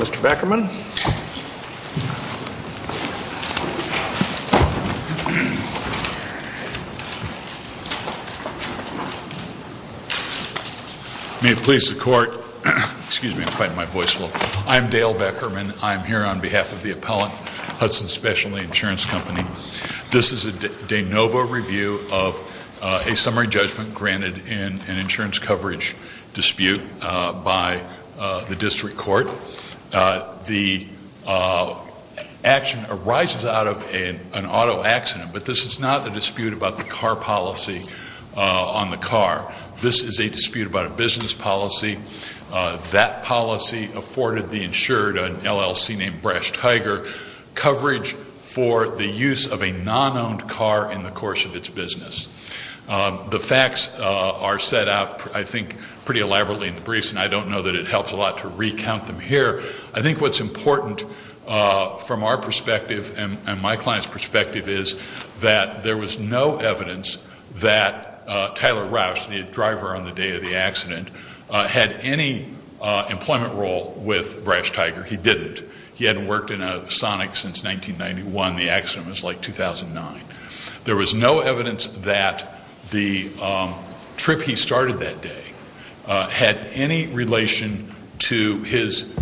Mr. Beckerman. May it please the Court, excuse me, I'm fighting my voice a little. I'm Dale Beckerman. I'm here on behalf of the appellant, Hudson Specialty Insurance Company. This is a de novo review of a summary judgment granted in an insurance coverage dispute by the district court. The action arises out of an auto accident, but this is not a dispute about the car policy on the car. This is a dispute about a business policy. That policy afforded the insured, an LLC named Brash Tygr, coverage for the use of a non-owned car in the course of its business. The facts are set out, I think, pretty elaborately in the briefs, and I don't know that it helps a lot to recount them here. I think what's important from our perspective and my client's perspective is that there was no evidence that Tyler Roush, the driver on the day of the accident, had any employment role with Brash Tygr. He didn't. He hadn't worked in a Sonic since 1991. The accident was like 2009. There was no evidence that the trip he started that day had any relation to his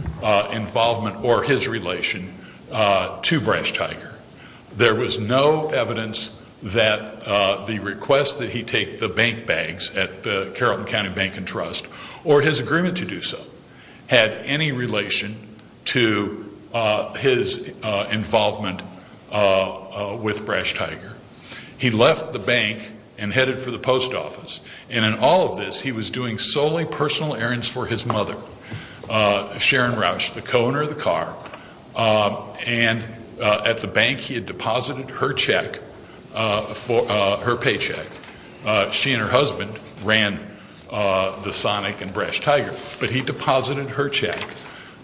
involvement or his relation to Brash Tygr. There was no evidence that the request that he take the bank bags at the Carrollton County Bank and Trust, or his agreement to do so, had any relation to his involvement with Brash Tygr. He left the bank and headed for the post office, and in all of this, he was doing solely personal errands for his mother, Sharon Roush, the co-owner of the car, and at the bank, he had deposited her check, her paycheck. She and her husband ran the Sonic and Brash Tygr, but he deposited her check,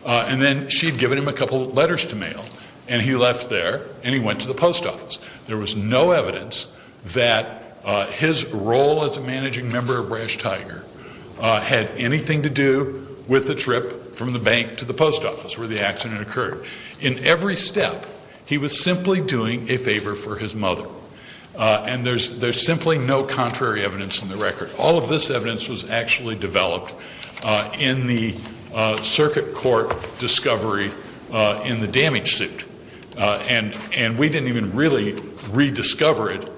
and then she'd given him a couple of letters to mail, and he left there, and he went to the post office. There was no evidence that his role as a managing member of Brash Tygr had anything to do with the trip from the bank to the post office where the accident occurred. In every step, he was simply doing a favor for his mother, and there's simply no contrary evidence in the record. All of this evidence was actually developed in the circuit court discovery in the damage suit, and we didn't even really rediscover it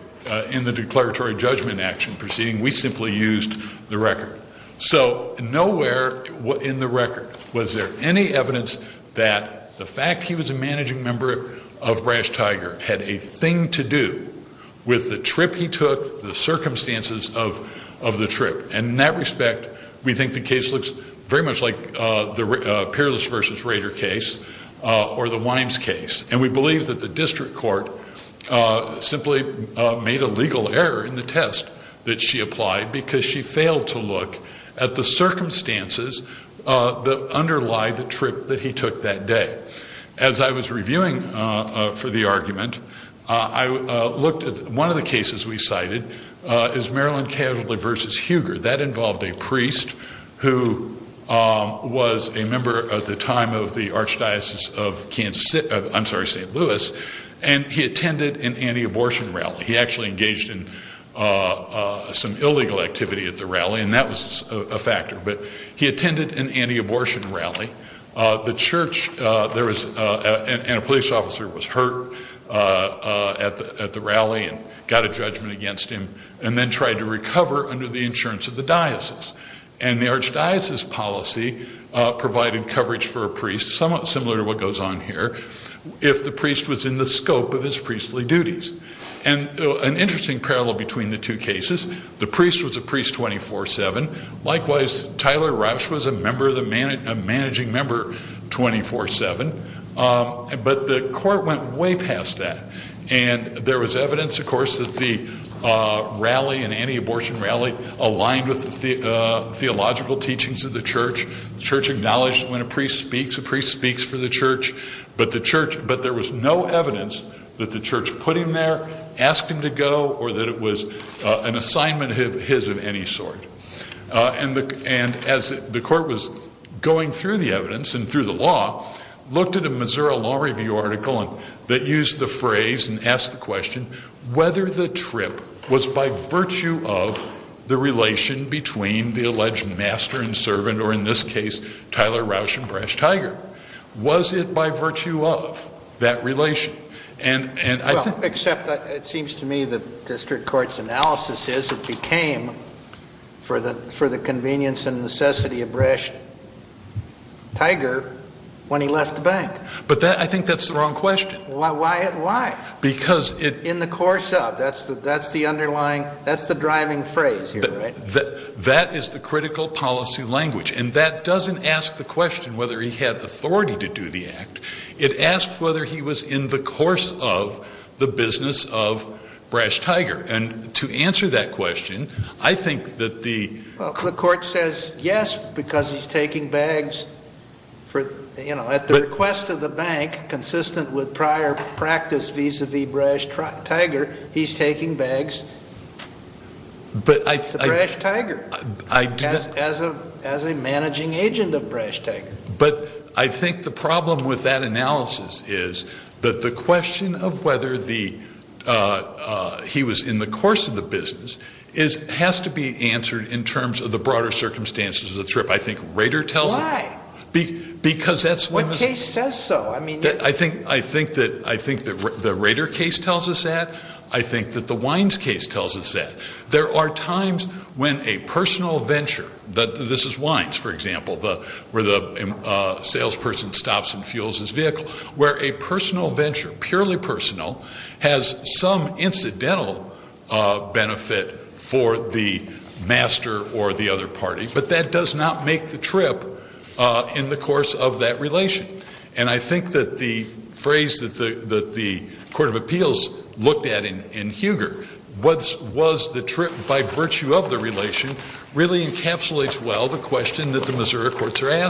in the declaratory judgment action proceeding. We simply used the record. So nowhere in the record was there any evidence that the fact he was a managing member of Brash Tygr had a thing to do with the trip he took, the circumstances of the trip, and in that respect, we think the case looks very much like the Peerless versus Rader case or the Wimes case, and we believe that the district court simply made a legal error in the test that she applied because she failed to look at the circumstances that underlie the trip that he took that day. As I was reviewing for the argument, I looked at one of the cases we cited is Maryland Casualty versus Huger. That involved a priest who was a member at the time of the Archdiocese of Kansas, I'm sorry, St. Louis, and he attended an anti-abortion rally. He actually engaged in some illegal activity at the rally, and that was a factor, but he attended an anti-abortion rally. The church, there was, and a police officer was hurt at the rally and got a judgment against him and then tried to recover under the insurance of the diocese, and the archdiocese policy provided coverage for a priest, somewhat similar to what goes on here, if the priest was in the scope of his priestly duties, and an interesting parallel between the two cases. The priest was a priest 24-7. Likewise, Tyler Roush was a member of the, a managing member 24-7, but the court went way past that, and there was evidence, of course, that the rally, an anti-abortion rally, aligned with the theological teachings of the church. The church acknowledged when a priest speaks, a priest speaks for the church, but the church, but there was no evidence that the church put him there, asked him to go, or that it was an assignment his of any sort, and as the court was going through the evidence and through the law, looked at a Missouri Law Review article, and that used the phrase, and asked the question, whether the trip was by virtue of the relation between the alleged master and servant, or in this case, Tyler Roush and Brash Tiger. Was it by virtue of that relation? And, and, I think, except it seems to me the district court's analysis is, it became, for the, for the convenience and necessity of Brash Tiger when he left the bank. But that, I think that's the wrong question. Why, why, why? Because it. In the course of, that's the, that's the underlying, that's the driving phrase here, right? That, that is the critical policy language, and that doesn't ask the question whether he had authority to do the act, it asks whether he was in the course of the business of Brash Tiger, and to answer that question, I think that the. Well, the court says yes, because he's taking bags for, you know, at the request of the bank, consistent with prior practice vis-a-vis Brash Tiger, he's taking bags. But I. To Brash Tiger. I do. As a, as a managing agent of Brash Tiger. But I think the problem with that analysis is that the question of whether the, he was in the course of the business is, has to be answered in terms of the broader circumstances of the trip. I think Rader tells. Why? Because that's. What case says so? I mean. I think, I think that, I think that the Rader case tells us that. I think that the Wines case tells us that. There are times when a personal venture, that this is Wines, for example, the, where the salesperson stops and fuels his vehicle, where a personal venture, purely personal, has some incidental benefit for the master or the other party, but that does not make the trip in the course of that relation. And I think that the phrase that the, that the Court of Appeals looked at in, in Huger, what was the trip by virtue of the relation, really encapsulates well the question that the Missouri Court. I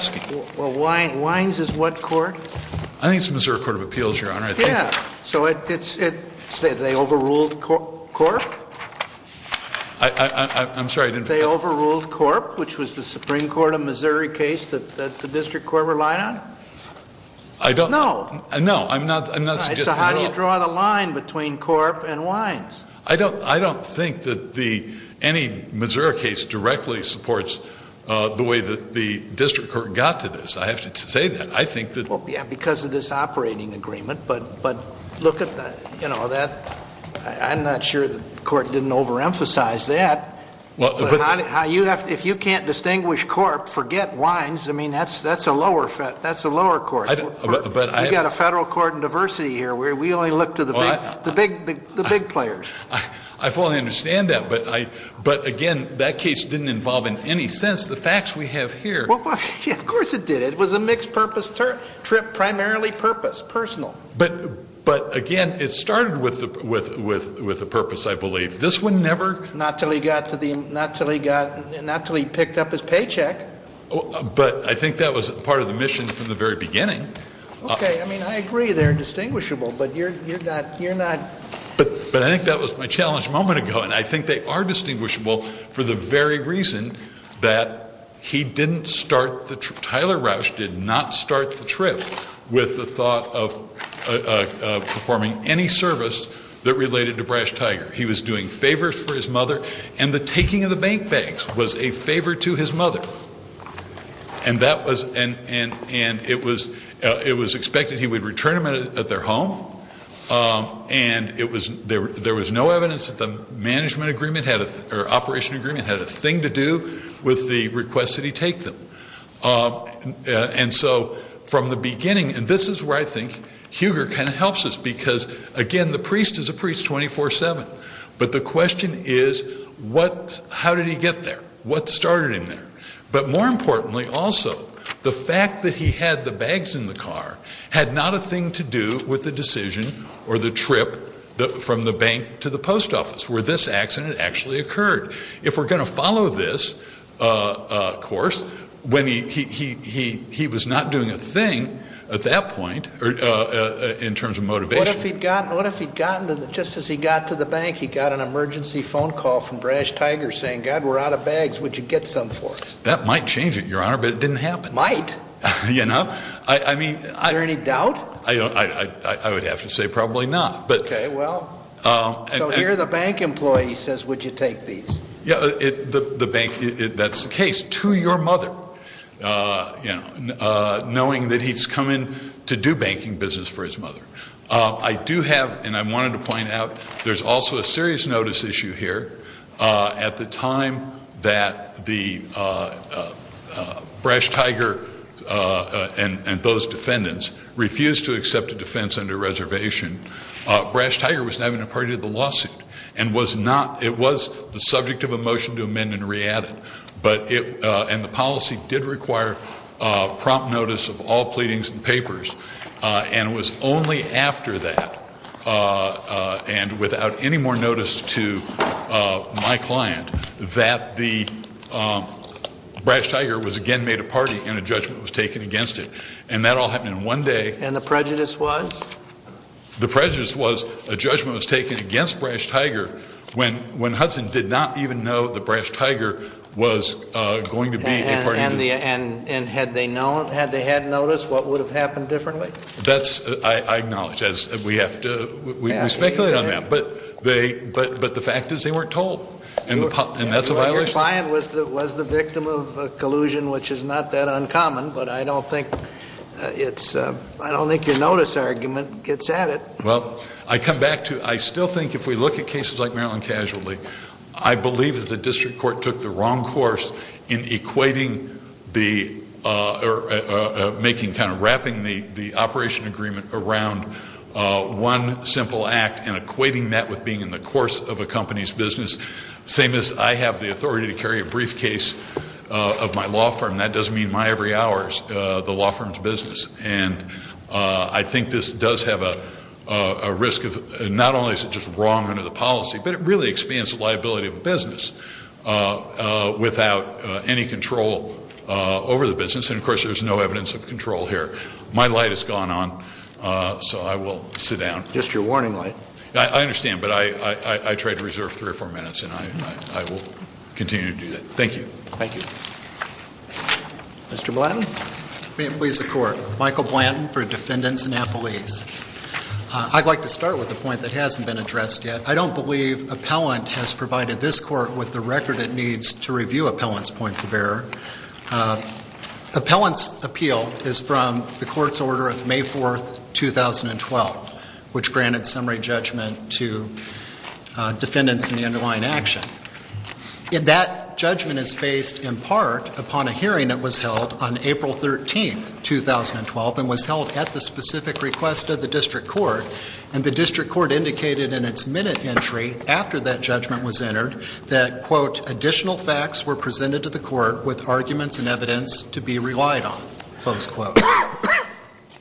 think it's Missouri Court of Appeals, Your Honor. Yeah. So it's, it's, they overruled Corp? I, I, I'm sorry, I didn't. They overruled Corp, which was the Supreme Court of Missouri case that, that the District Court relied on? I don't. No. No, I'm not, I'm not. So how do you draw the line between Corp and Wines? I don't, I don't think that the, any Missouri case directly supports the way that the District Court got to this. I have to say that. I think that. Well, yeah, because of this operating agreement, but, but look at the, you know, that, I'm not sure the Court didn't overemphasize that, but how do you have to, if you can't distinguish Corp, forget Wines. I mean, that's, that's a lower, that's a lower Court. I don't, but I. You've got a federal court in diversity here where we only look to the big, the big, the big players. I fully understand that, but I, but again, that case didn't involve in any sense the facts we have here. Well, yeah, of course it did. It was a mixed purpose trip, primarily purpose, personal. But, but again, it started with the, with, with, with the purpose, I believe. This one never. Not till he got to the, not till he got, not till he picked up his paycheck. But I think that was part of the mission from the very beginning. Okay, I mean, I agree they're distinguishable, but you're, you're not. But, but I think that was my challenge a moment ago, and I think they are distinguishable for the very reason that he didn't start the, Tyler Rauch did not start the trip with the thought of performing any service that related to Brash Tiger. He was doing favors for his mother, and the taking of the bank bags was a favor to his mother. And that was, and, and, and it was, it was expected he would return them at their home, and it was, there, there was no evidence that the management agreement had, or operation agreement had a thing to do with the request that he take them. And so from the beginning, and this is where I think Huger kind of helps us, because again, the priest is a priest 24-7. But the question is what, how did he get there? What started him there? But more importantly also, the fact that he had the bags in the car had not a thing to do with the decision or the trip from the bank to the post office, where this accident actually occurred. If we're going to follow this course, when he, he, he, he, he was not doing a thing at that point in terms of motivation. What if he'd gotten, what if he'd gotten to the, just as he got to the bank, he got an emergency phone call from Brash Tiger saying, God, we're out of cash, get some for us. That might change it, Your Honor, but it didn't happen. Might. You know, I, I mean. Is there any doubt? I don't, I, I, I would have to say probably not, but. Okay, well. So here the bank employee says, would you take these? Yeah, it, the, the bank, that's the case, to your mother, you know, knowing that he's come in to do banking business for his mother. I do have, and I wanted to point out, there's also a serious notice issue here at the time that the Brash Tiger and those defendants refused to accept a defense under reservation. Brash Tiger was not even a party to the lawsuit and was not, it was the subject of a motion to amend and re-add it, but it, and the policy did require prompt notice of all pleadings and papers, and it was only after that, and without any more notice to my client, that the Brash Tiger was again made a party and a judgment was taken against it. And that all happened in one day. And the prejudice was? The prejudice was a judgment was taken against Brash Tiger when, when Hudson did not even know the Brash Tiger was going to be a party. And the, and, and had they known, had they had notice, what would have we speculated on that, but they, but, but the fact is they weren't told and that's a violation. Your client was the, was the victim of a collusion, which is not that uncommon, but I don't think it's, I don't think your notice argument gets at it. Well, I come back to, I still think if we look at cases like Maryland Casualty, I believe that the district court took the wrong course in equating the, or making, kind of wrapping the, the operation agreement around one simple act and equating that with being in the course of a company's business. Same as I have the authority to carry a briefcase of my law firm, that doesn't mean my every hour is the law firm's business. And I think this does have a risk of, not only is it just wrong under the policy, but it really expands the liability of a business without any control over the business. And of course, there's no evidence of control here. My light has gone on, so I will sit down. Just your warning light. I understand, but I, I try to reserve three or four minutes and I, I will continue to do that. Thank you. Thank you. Mr. Blanton. May it please the court. Michael Blanton for Defendants and Appellees. I'd like to start with a point that hasn't been addressed yet. I don't believe appellant has provided this court with the record it needs to review appellant's points of error. Appellant's appeal is from the court's order of May 4th, 2012, which granted summary judgment to defendants in the underlying action. And that judgment is based in part upon a hearing that was held on April 13th, 2012, and was held at the specific request of the district court. And the district court indicated in its minute entry after that judgment was entered that, quote, additional facts were presented to the court with arguments and evidence to be relied on, close quote.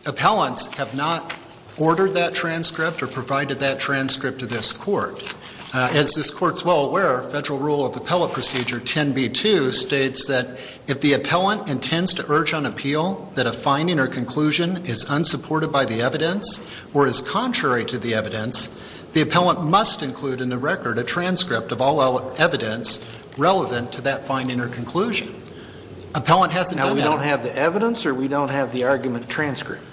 Appellants have not ordered that transcript or provided that transcript to this court. As this court's well aware, federal rule of appellate procedure 10B2 states that if the appellant intends to urge on appeal that a finding or conclusion is unsupported by the evidence or is contrary to the evidence, the appellant must include in the record a transcript of all evidence relevant to that finding or conclusion. Appellant hasn't done that. Now, we don't have the evidence or we don't have the argument transcript?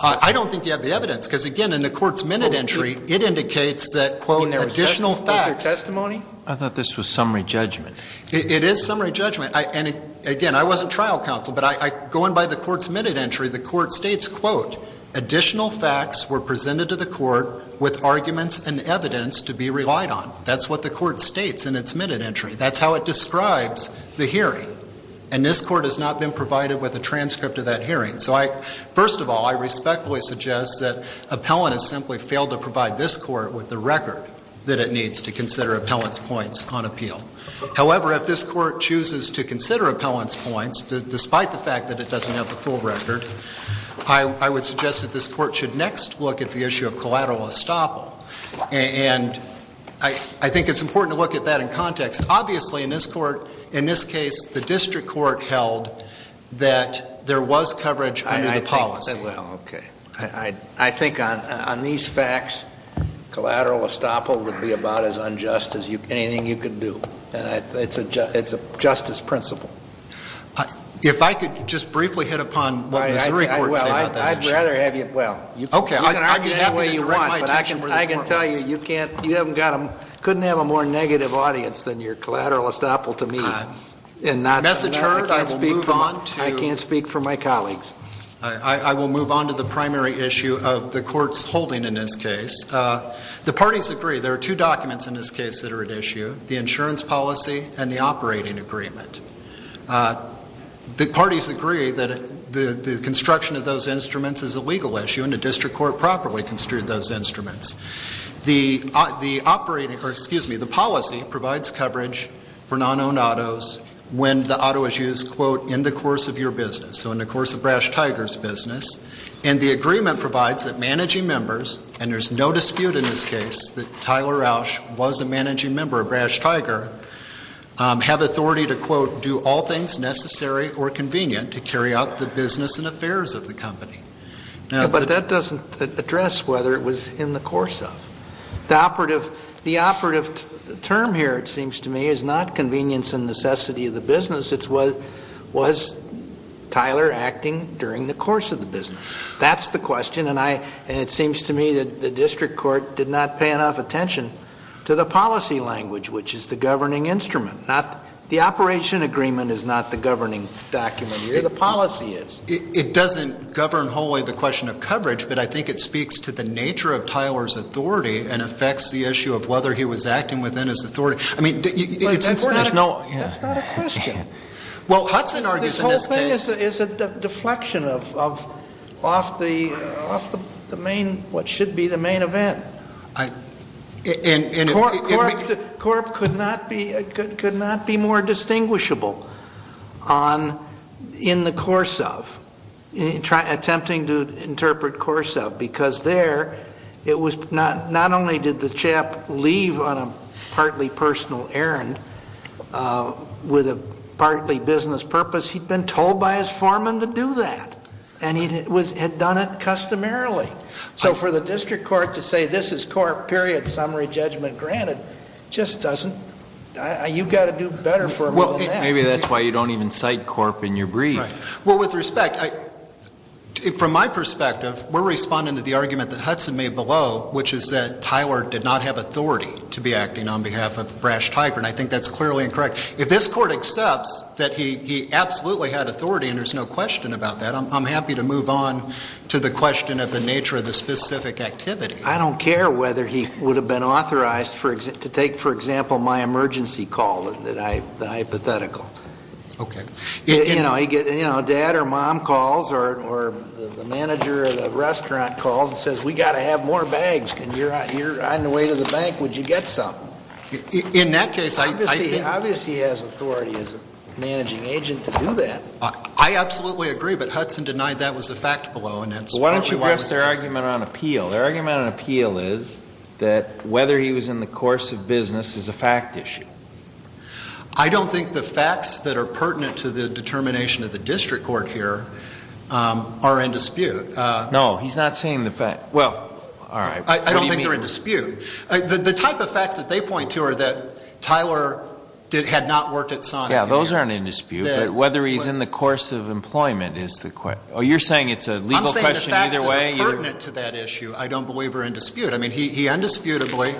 I don't think you have the evidence. Because, again, in the court's minute entry, it indicates that, quote, additional facts. Was there testimony? I thought this was summary judgment. It is summary judgment. And, again, I wasn't trial counsel. But going by the court's entry, the court states, quote, additional facts were presented to the court with arguments and evidence to be relied on. That's what the court states in its minute entry. That's how it describes the hearing. And this court has not been provided with a transcript of that hearing. So I, first of all, I respectfully suggest that appellant has simply failed to provide this court with the record that it needs to consider appellant's points on appeal. However, if this court chooses to consider appellant's points despite the fact that it doesn't have the full record, I would suggest that this court should next look at the issue of collateral estoppel. And I think it's important to look at that in context. Obviously, in this court, in this case, the district court held that there was coverage under the policy. Well, okay. I think on these facts, collateral estoppel would be about as unjust as anything you could do. And it's a justice principle. If I could just briefly hit upon what Missouri courts say about that issue. Well, I'd rather have you, well, you can argue any way you want, but I can tell you, you can't, you haven't got them, couldn't have a more negative audience than your collateral estoppel to me. Message heard, I will move on to. I can't speak for my colleagues. I will move on to the primary issue of the court's holding in this case. The parties agree, there are two documents in this case that are at issue, the insurance policy and the operating agreement. The parties agree that the construction of those instruments is a legal issue and the district court properly construed those instruments. The operating, or excuse me, the policy provides coverage for non-owned autos when the auto is used, quote, in the course of your business. So in the course of Brash Tiger's business. And the agreement provides that managing members, and there's no dispute in this case that have authority to, quote, do all things necessary or convenient to carry out the business and affairs of the company. But that doesn't address whether it was in the course of. The operative, the operative term here, it seems to me, is not convenience and necessity of the business, it's was Tyler acting during the course of the business. That's the question, and I, and it seems to me that the district court did not pay enough attention to the policy language, which is the governing instrument, not, the operation agreement is not the governing document here, the policy is. It doesn't govern wholly the question of coverage, but I think it speaks to the nature of Tyler's authority and affects the issue of whether he was acting within his authority. I mean, it's important. That's not a question. Well, Hudson argues in this case. This whole thing is a deflection of, of, off the, off the main, what should be the main event. I, and, and. Corp could not be, could not be more distinguishable on, in the course of, attempting to interpret course of, because there, it was not, not only did the chap leave on a partly personal errand with a partly business purpose, he'd been told by his foreman to do that, and he had done it customarily. So for the district court to say, this is corp, period, summary judgment granted, just doesn't, you've got to do better for a little nap. Maybe that's why you don't even cite corp in your brief. Well, with respect, I, from my perspective, we're responding to the argument that Hudson made below, which is that Tyler did not have authority to be acting on behalf of Brash Tiger, and I think that's clearly incorrect. If this court accepts that he, he absolutely had authority, and there's no question about that. I'm, I'm happy to move on to the question of the nature of the specific activity. I don't care whether he would have been authorized for ex, to take, for example, my emergency call that I, the hypothetical. Okay. You know, he get, you know, dad or mom calls, or, or the manager of the restaurant calls and says, we got to have more bags, and you're out, you're on the way to the bank, would you get some? In that case, I, I. Obviously, he has authority as a managing agent to do that. I absolutely agree, but Hudson denied that was a fact below, and that's. Why don't you address their argument on appeal? Their argument on appeal is that whether he was in the course of business is a fact issue. I don't think the facts that are pertinent to the determination of the district court here are in dispute. No, he's not saying the fact. Well, all right. I don't think they're in dispute. The type of facts that they point to are that Tyler did, had not worked at SONIC. Yeah, those aren't in dispute, but whether he's in the course of employment is the question. Oh, you're saying it's a legal question either way? I'm saying the facts that are pertinent to that issue, I don't believe are in dispute. I mean, he, he indisputably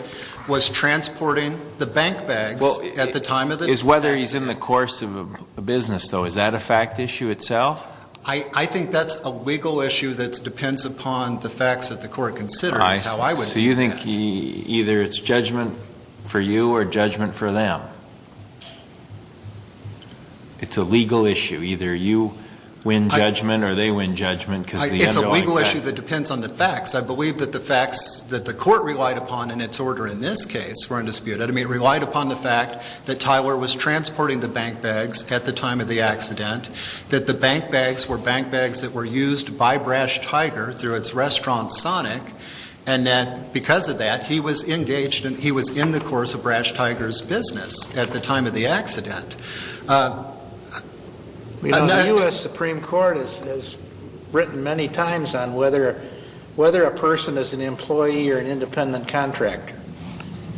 was transporting the bank bags at the time of the accident. It's whether he's in the course of a business, though. Is that a fact issue itself? I, I think that's a legal issue that depends upon the facts that the court considers, how I would view that. So you think either it's judgment for you or judgment for them? It's a legal issue. Either you win judgment or they win judgment because of the underlying facts. It's a legal issue that depends on the facts. I believe that the facts that the court relied upon in its order in this case were in dispute. I mean, relied upon the fact that Tyler was transporting the bank bags at the time of the accident, that the bank bags were bank bags that were used by Brash Tiger through its restaurant, SONIC, and that because of that, he was engaged in, he was in the course of Brash Tiger's business at the time of the accident. The U.S. Supreme Court has, has written many times on whether, whether a person is an employee or an independent contractor.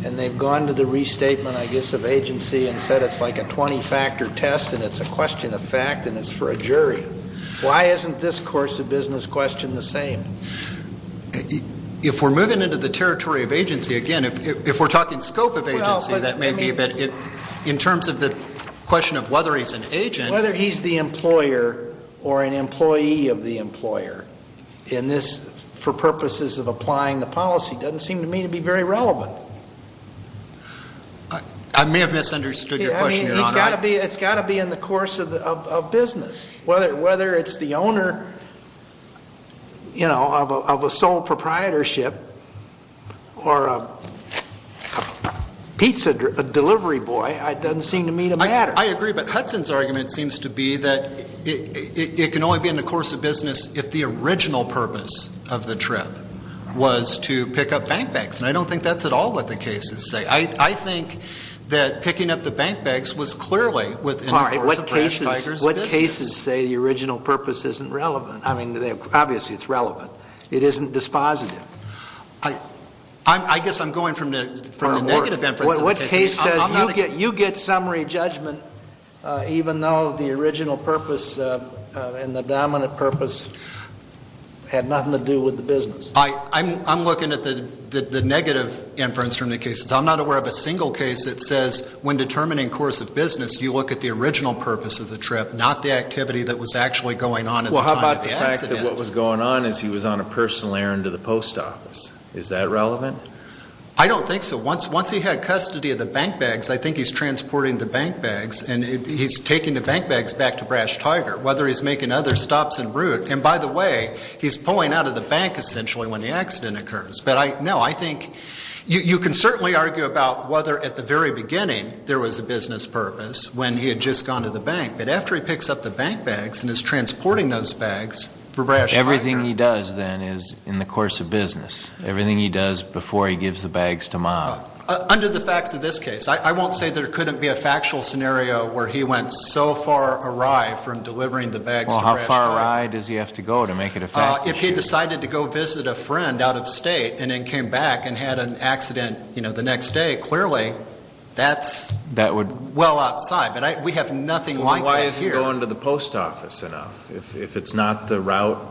And they've gone to the restatement, I guess, of agency and said it's like a 20-factor test and it's a question of fact and it's for a jury. Why isn't this course of business question the same? If we're moving into the territory of agency, again, if we're talking scope of agency, that may be a bit, in terms of the question of whether he's an agent. Whether he's the employer or an employee of the employer in this, for purposes of applying the policy, doesn't seem to me to be very relevant. I may have misunderstood your question, Your Honor. It's got to be in the course of business, whether it's the owner, you know, of a sole proprietorship, or a pizza delivery boy, it doesn't seem to me to matter. I agree, but Hudson's argument seems to be that it can only be in the course of business if the original purpose of the trip was to pick up bank bags. And I don't think that's at all what the cases say. I think that picking up the bank bags was clearly within the course of Brash Tiger's business. What cases say the original purpose isn't relevant? I mean, obviously it's relevant. It isn't dispositive. I guess I'm going from the negative inference. What case says you get summary judgment even though the original purpose and the dominant purpose had nothing to do with the business? I'm looking at the negative inference from the cases. I'm not aware of a single case that says when determining course of business, you look at the original purpose of the trip, not the activity that was actually going on at the time of the accident. What was going on is he was on a personal errand to the post office. Is that relevant? I don't think so. Once he had custody of the bank bags, I think he's transporting the bank bags and he's taking the bank bags back to Brash Tiger, whether he's making other stops en route. And by the way, he's pulling out of the bank essentially when the accident occurs. But no, I think you can certainly argue about whether at the very beginning there was a business purpose when he had just gone to the bank. But after he picks up the bank bags and is transporting those bags for Brash Tiger. Everything he does then is in the course of business. Everything he does before he gives the bags to Mom. Under the facts of this case, I won't say there couldn't be a factual scenario where he went so far awry from delivering the bags to Brash Tiger. Well, how far awry does he have to go to make it a fact? If he decided to go visit a friend out of state and then came back and had an accident the next day, clearly that's well outside. We have nothing like that here. But why isn't he going to the post office enough if it's not the route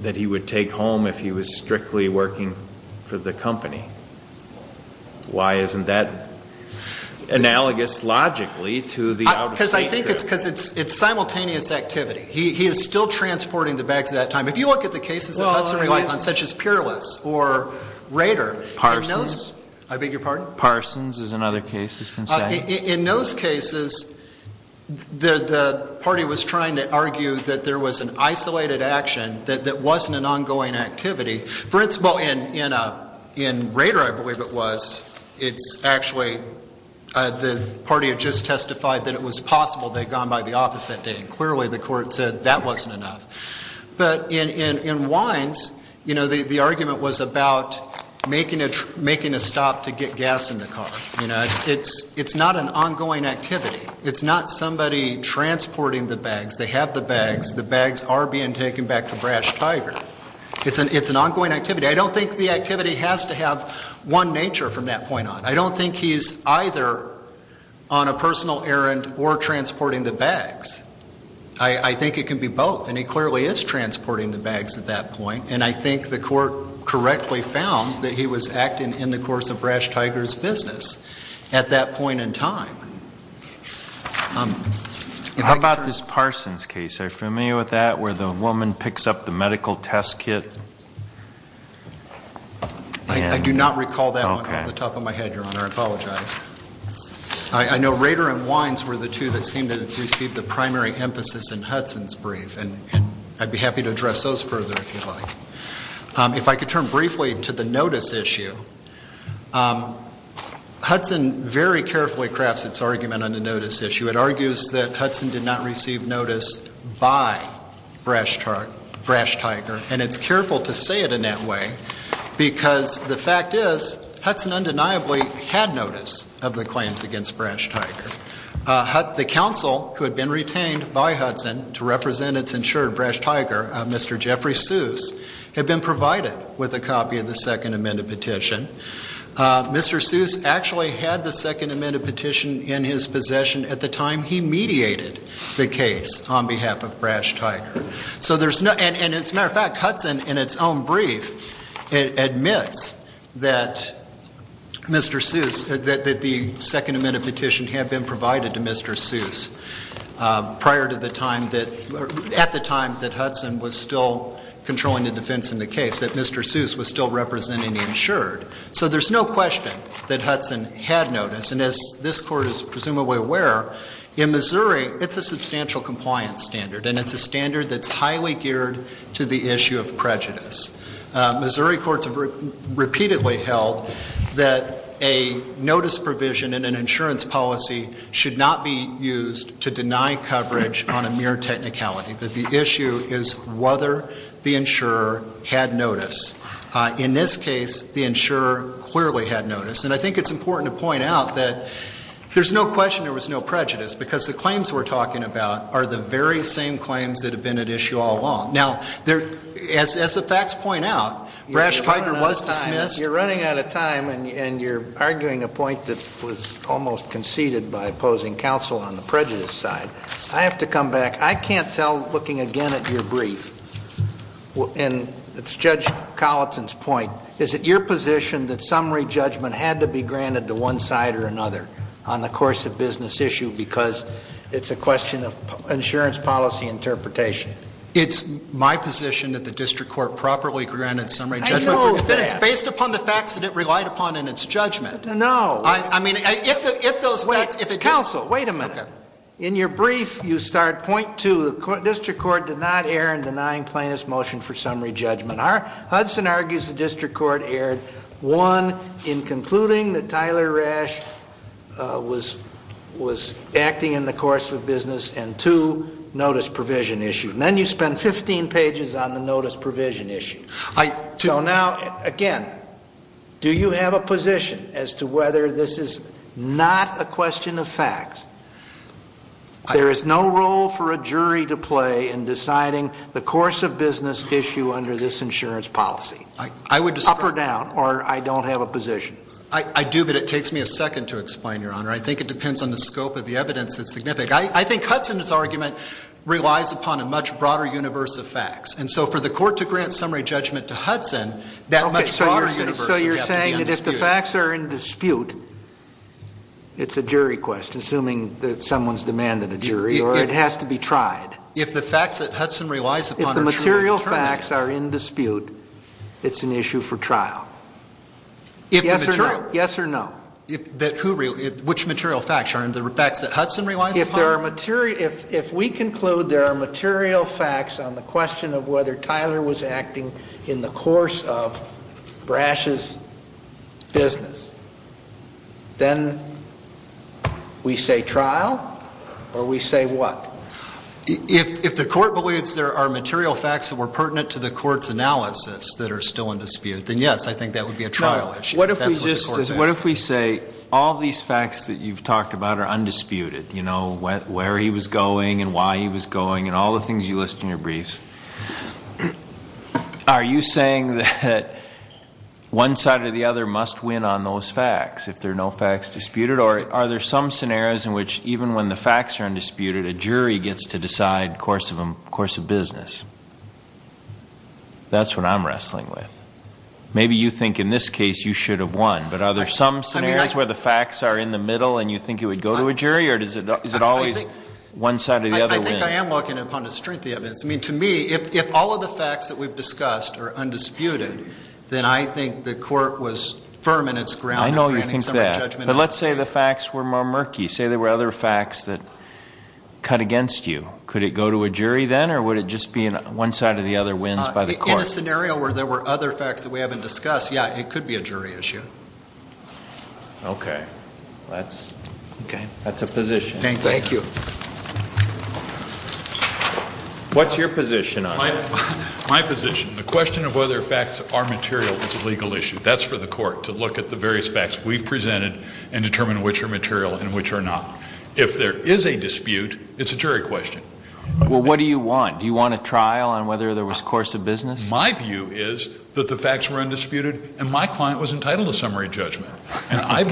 that he would take home if he was strictly working for the company? Why isn't that analogous logically to the out-of-state trip? Because I think it's simultaneous activity. He is still transporting the bags at that time. If you look at the cases that Hudson relies on, such as Peerless or Rader. Parsons. I beg your pardon? Parsons is another case that's been cited. In those cases, the party was trying to argue that there was an isolated action that wasn't an ongoing activity. For instance, in Rader, I believe it was, it's actually the party had just testified that it was possible they had gone by the office that day and clearly the court said that wasn't enough. But in Wines, the argument was about making a stop to get gas in the car. It's not an ongoing activity. It's not somebody transporting the bags. They have the bags. The bags are being taken back to Brash Tiger. It's an ongoing activity. I don't think the activity has to have one nature from that point on. I don't think he's either on a personal errand or transporting the bags. I think it can be both. And he clearly is transporting the bags at that point. And I think the court correctly found that he was acting in the course of Brash Tiger's business at that point in time. How about this Parsons case? Are you familiar with that? Where the woman picks up the medical test kit? I do not recall that one off the top of my head, Your Honor. I apologize. I know Rader and Wines were the two that seemed to receive the primary emphasis in Hudson's brief and I'd be happy to address those further if you'd like. If I could turn briefly to the notice issue. Hudson very carefully crafts its argument on the notice issue. It argues that Hudson did not receive notice by Brash Tiger. And it's careful to say it in that way because the fact is Hudson undeniably had notice of the claims against Brash Tiger. The counsel who had been retained by Hudson to represent its insured Brash Tiger, Mr. Jeffrey Seuss, had been provided with a copy of the Second Amendment petition. Mr. Seuss actually had the Second Amendment petition in his possession at the time he mediated the case on behalf of Brash Tiger. So there's no, and as a matter of fact, Hudson in its own brief admits that Mr. Seuss, that the Second Amendment petition had been provided to Mr. Seuss before controlling the defense in the case, that Mr. Seuss was still representing the insured. So there's no question that Hudson had notice. And as this Court is presumably aware, in Missouri it's a substantial compliance standard and it's a standard that's highly geared to the issue of prejudice. Missouri courts have repeatedly held that a notice provision in an insurance policy should not be used to deny coverage on a mere technicality. The issue is whether the insurer had notice. In this case, the insurer clearly had notice. And I think it's important to point out that there's no question there was no prejudice because the claims we're talking about are the very same claims that have been at issue all along. Now, as the facts point out, Brash Tiger was dismissed. You're running out of time and you're arguing a point that was almost conceded by opposing counsel on the prejudice side. I have to come back. I can't tell, looking again at your brief, and it's Judge Colleton's point, is it your position that summary judgment had to be granted to one side or another on the course of business issue because it's a question of insurance policy interpretation? It's my position that the district court properly granted summary judgment. I know that. It's based upon the facts that it relied upon in its judgment. No. I mean, if those facts, if it didn't. Counsel, wait a minute. In your brief, you start point two. The district court did not err in denying plaintiff's motion for summary judgment. Hudson argues the district court erred, one, in concluding that Tyler Rash was acting in the course of business, and two, notice provision issue. And then you spend 15 pages on the notice provision issue. So now, again, do you have a position as to whether this is not a question of facts? There is no role for a jury to play in deciding the course of business issue under this insurance policy, up or down, or I don't have a position. I do, but it takes me a second to explain, Your Honor. I think it depends on the scope of the evidence that's significant. I think Hudson's argument relies upon a much broader universe of facts. And so for the court to grant summary judgment to Hudson, that much broader universe would have to be in dispute. It's a jury question, assuming that someone's demanded a jury, or it has to be tried. If the facts that Hudson relies upon are true, it's a trial. If the material facts are in dispute, it's an issue for trial. Yes or no? Yes or no. If, that who, which material facts, Your Honor, the facts that Hudson relies upon? If there are material, if we conclude there are material facts on the question of whether Brash's business, then we say trial, or we say what? If the court believes there are material facts that were pertinent to the court's analysis that are still in dispute, then yes, I think that would be a trial issue. What if we just, what if we say all these facts that you've talked about are undisputed, you know, where he was going and why he was going and all the things you list in your briefs. Are you saying that one side or the other must win on those facts if there are no facts disputed, or are there some scenarios in which even when the facts are undisputed, a jury gets to decide course of business? That's what I'm wrestling with. Maybe you think in this case you should have won, but are there some scenarios where the facts are in the middle and you think it would go to a jury, or is it always one side or the other? I think I am looking upon the strength of evidence. I mean, to me, if all of the facts that we've discussed are undisputed, then I think the court was firm in its ground. I know you think that, but let's say the facts were more murky. Say there were other facts that cut against you. Could it go to a jury then, or would it just be one side or the other wins by the court? In a scenario where there were other facts that we haven't discussed, yeah, it could be a jury issue. Okay. That's a position. Thank you. What's your position on it? My position. The question of whether facts are material is a legal issue. That's for the court to look at the various facts we've presented and determine which are material and which are not. If there is a dispute, it's a jury question. Well, what do you want? Do you want a trial on whether there was course of business? My view is that the facts were undisputed, and my client was entitled to summary judgment. And I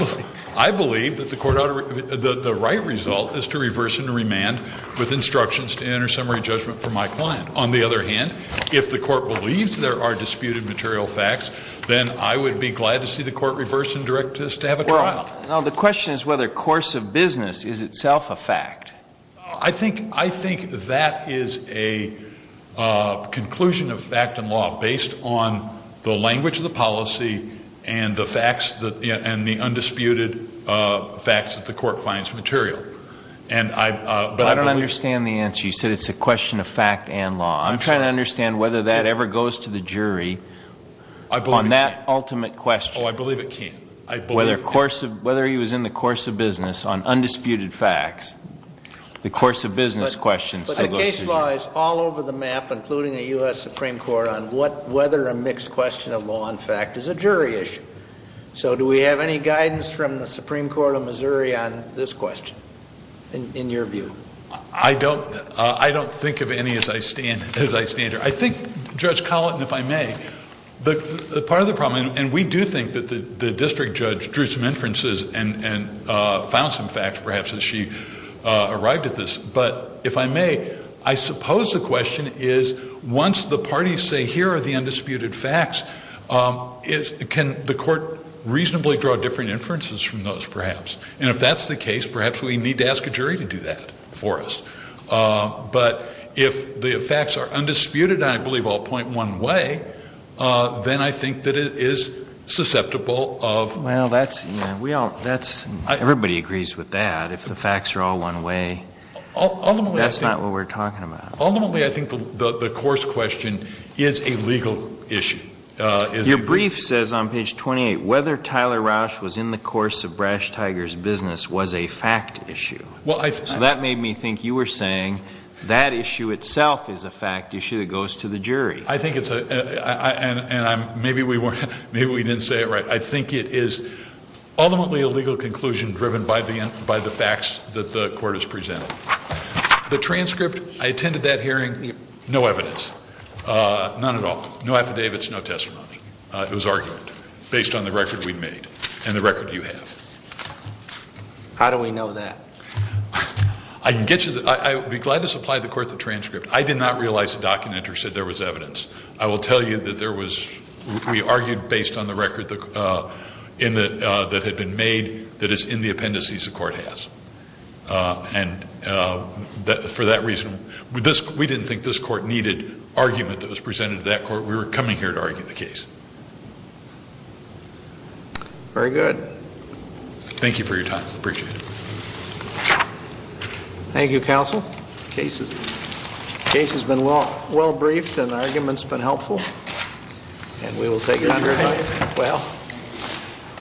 believe that the right result is to reverse and remand with instructions to enter summary judgment for my client. On the other hand, if the court believes there are disputed material facts, then I would be glad to see the court reverse and direct us to have a trial. Well, the question is whether course of business is itself a fact. I think that is a conclusion of fact and law based on the language of the policy and the undisputed facts that the court finds material. But I don't understand the answer. You said it's a question of fact and law. I'm trying to understand whether that ever goes to the jury on that ultimate question. Oh, I believe it can't. I believe it can't. Whether he was in the course of business on undisputed facts, the course of business question still goes to the jury. But the case law is all over the map, including the U.S. Supreme Court, on whether a mixed question of law and fact is a jury issue. So do we have any guidance from the Supreme Court of Missouri on this question in your view? I don't think of any as I stand here. I think, Judge Colleton, if I may, the part of the problem, and we do think that the district judge drew some inferences and found some facts, perhaps, as she arrived at this. But if I may, I suppose the question is, once the parties say, here are the undisputed facts, is, can the court reasonably draw different inferences from those, perhaps? And if that's the case, perhaps we need to ask a jury to do that for us. But if the facts are undisputed, and I believe all point one way, then I think that it is susceptible of- Well, that's, you know, we all, that's, everybody agrees with that. If the facts are all one way, that's not what we're talking about. Ultimately, I think the course question is a legal issue. Your brief says on page 28, whether Tyler Roush was in the course of Brash Tiger's business was a fact issue. Well, I- So that made me think you were saying that issue itself is a fact issue that goes to the jury. I think it's a, and I'm, maybe we weren't, maybe we didn't say it right. I think it is ultimately a legal conclusion driven by the facts that the court has presented. The transcript, I attended that hearing, no evidence. None at all. No affidavits, no testimony. It was argument based on the record we'd made and the record you have. How do we know that? I can get you the, I would be glad to supply the court the transcript. I did not realize the document or said there was evidence. I will tell you that there was, we argued based on the record that had been made that is in the appendices the court has. And for that reason, we didn't think this court needed argument that was presented to that court. We were coming here to argue the case. Very good. Thank you for your time. Appreciate it. Thank you, counsel. Case has been well, well briefed and argument's been helpful. And we will take your time. Well.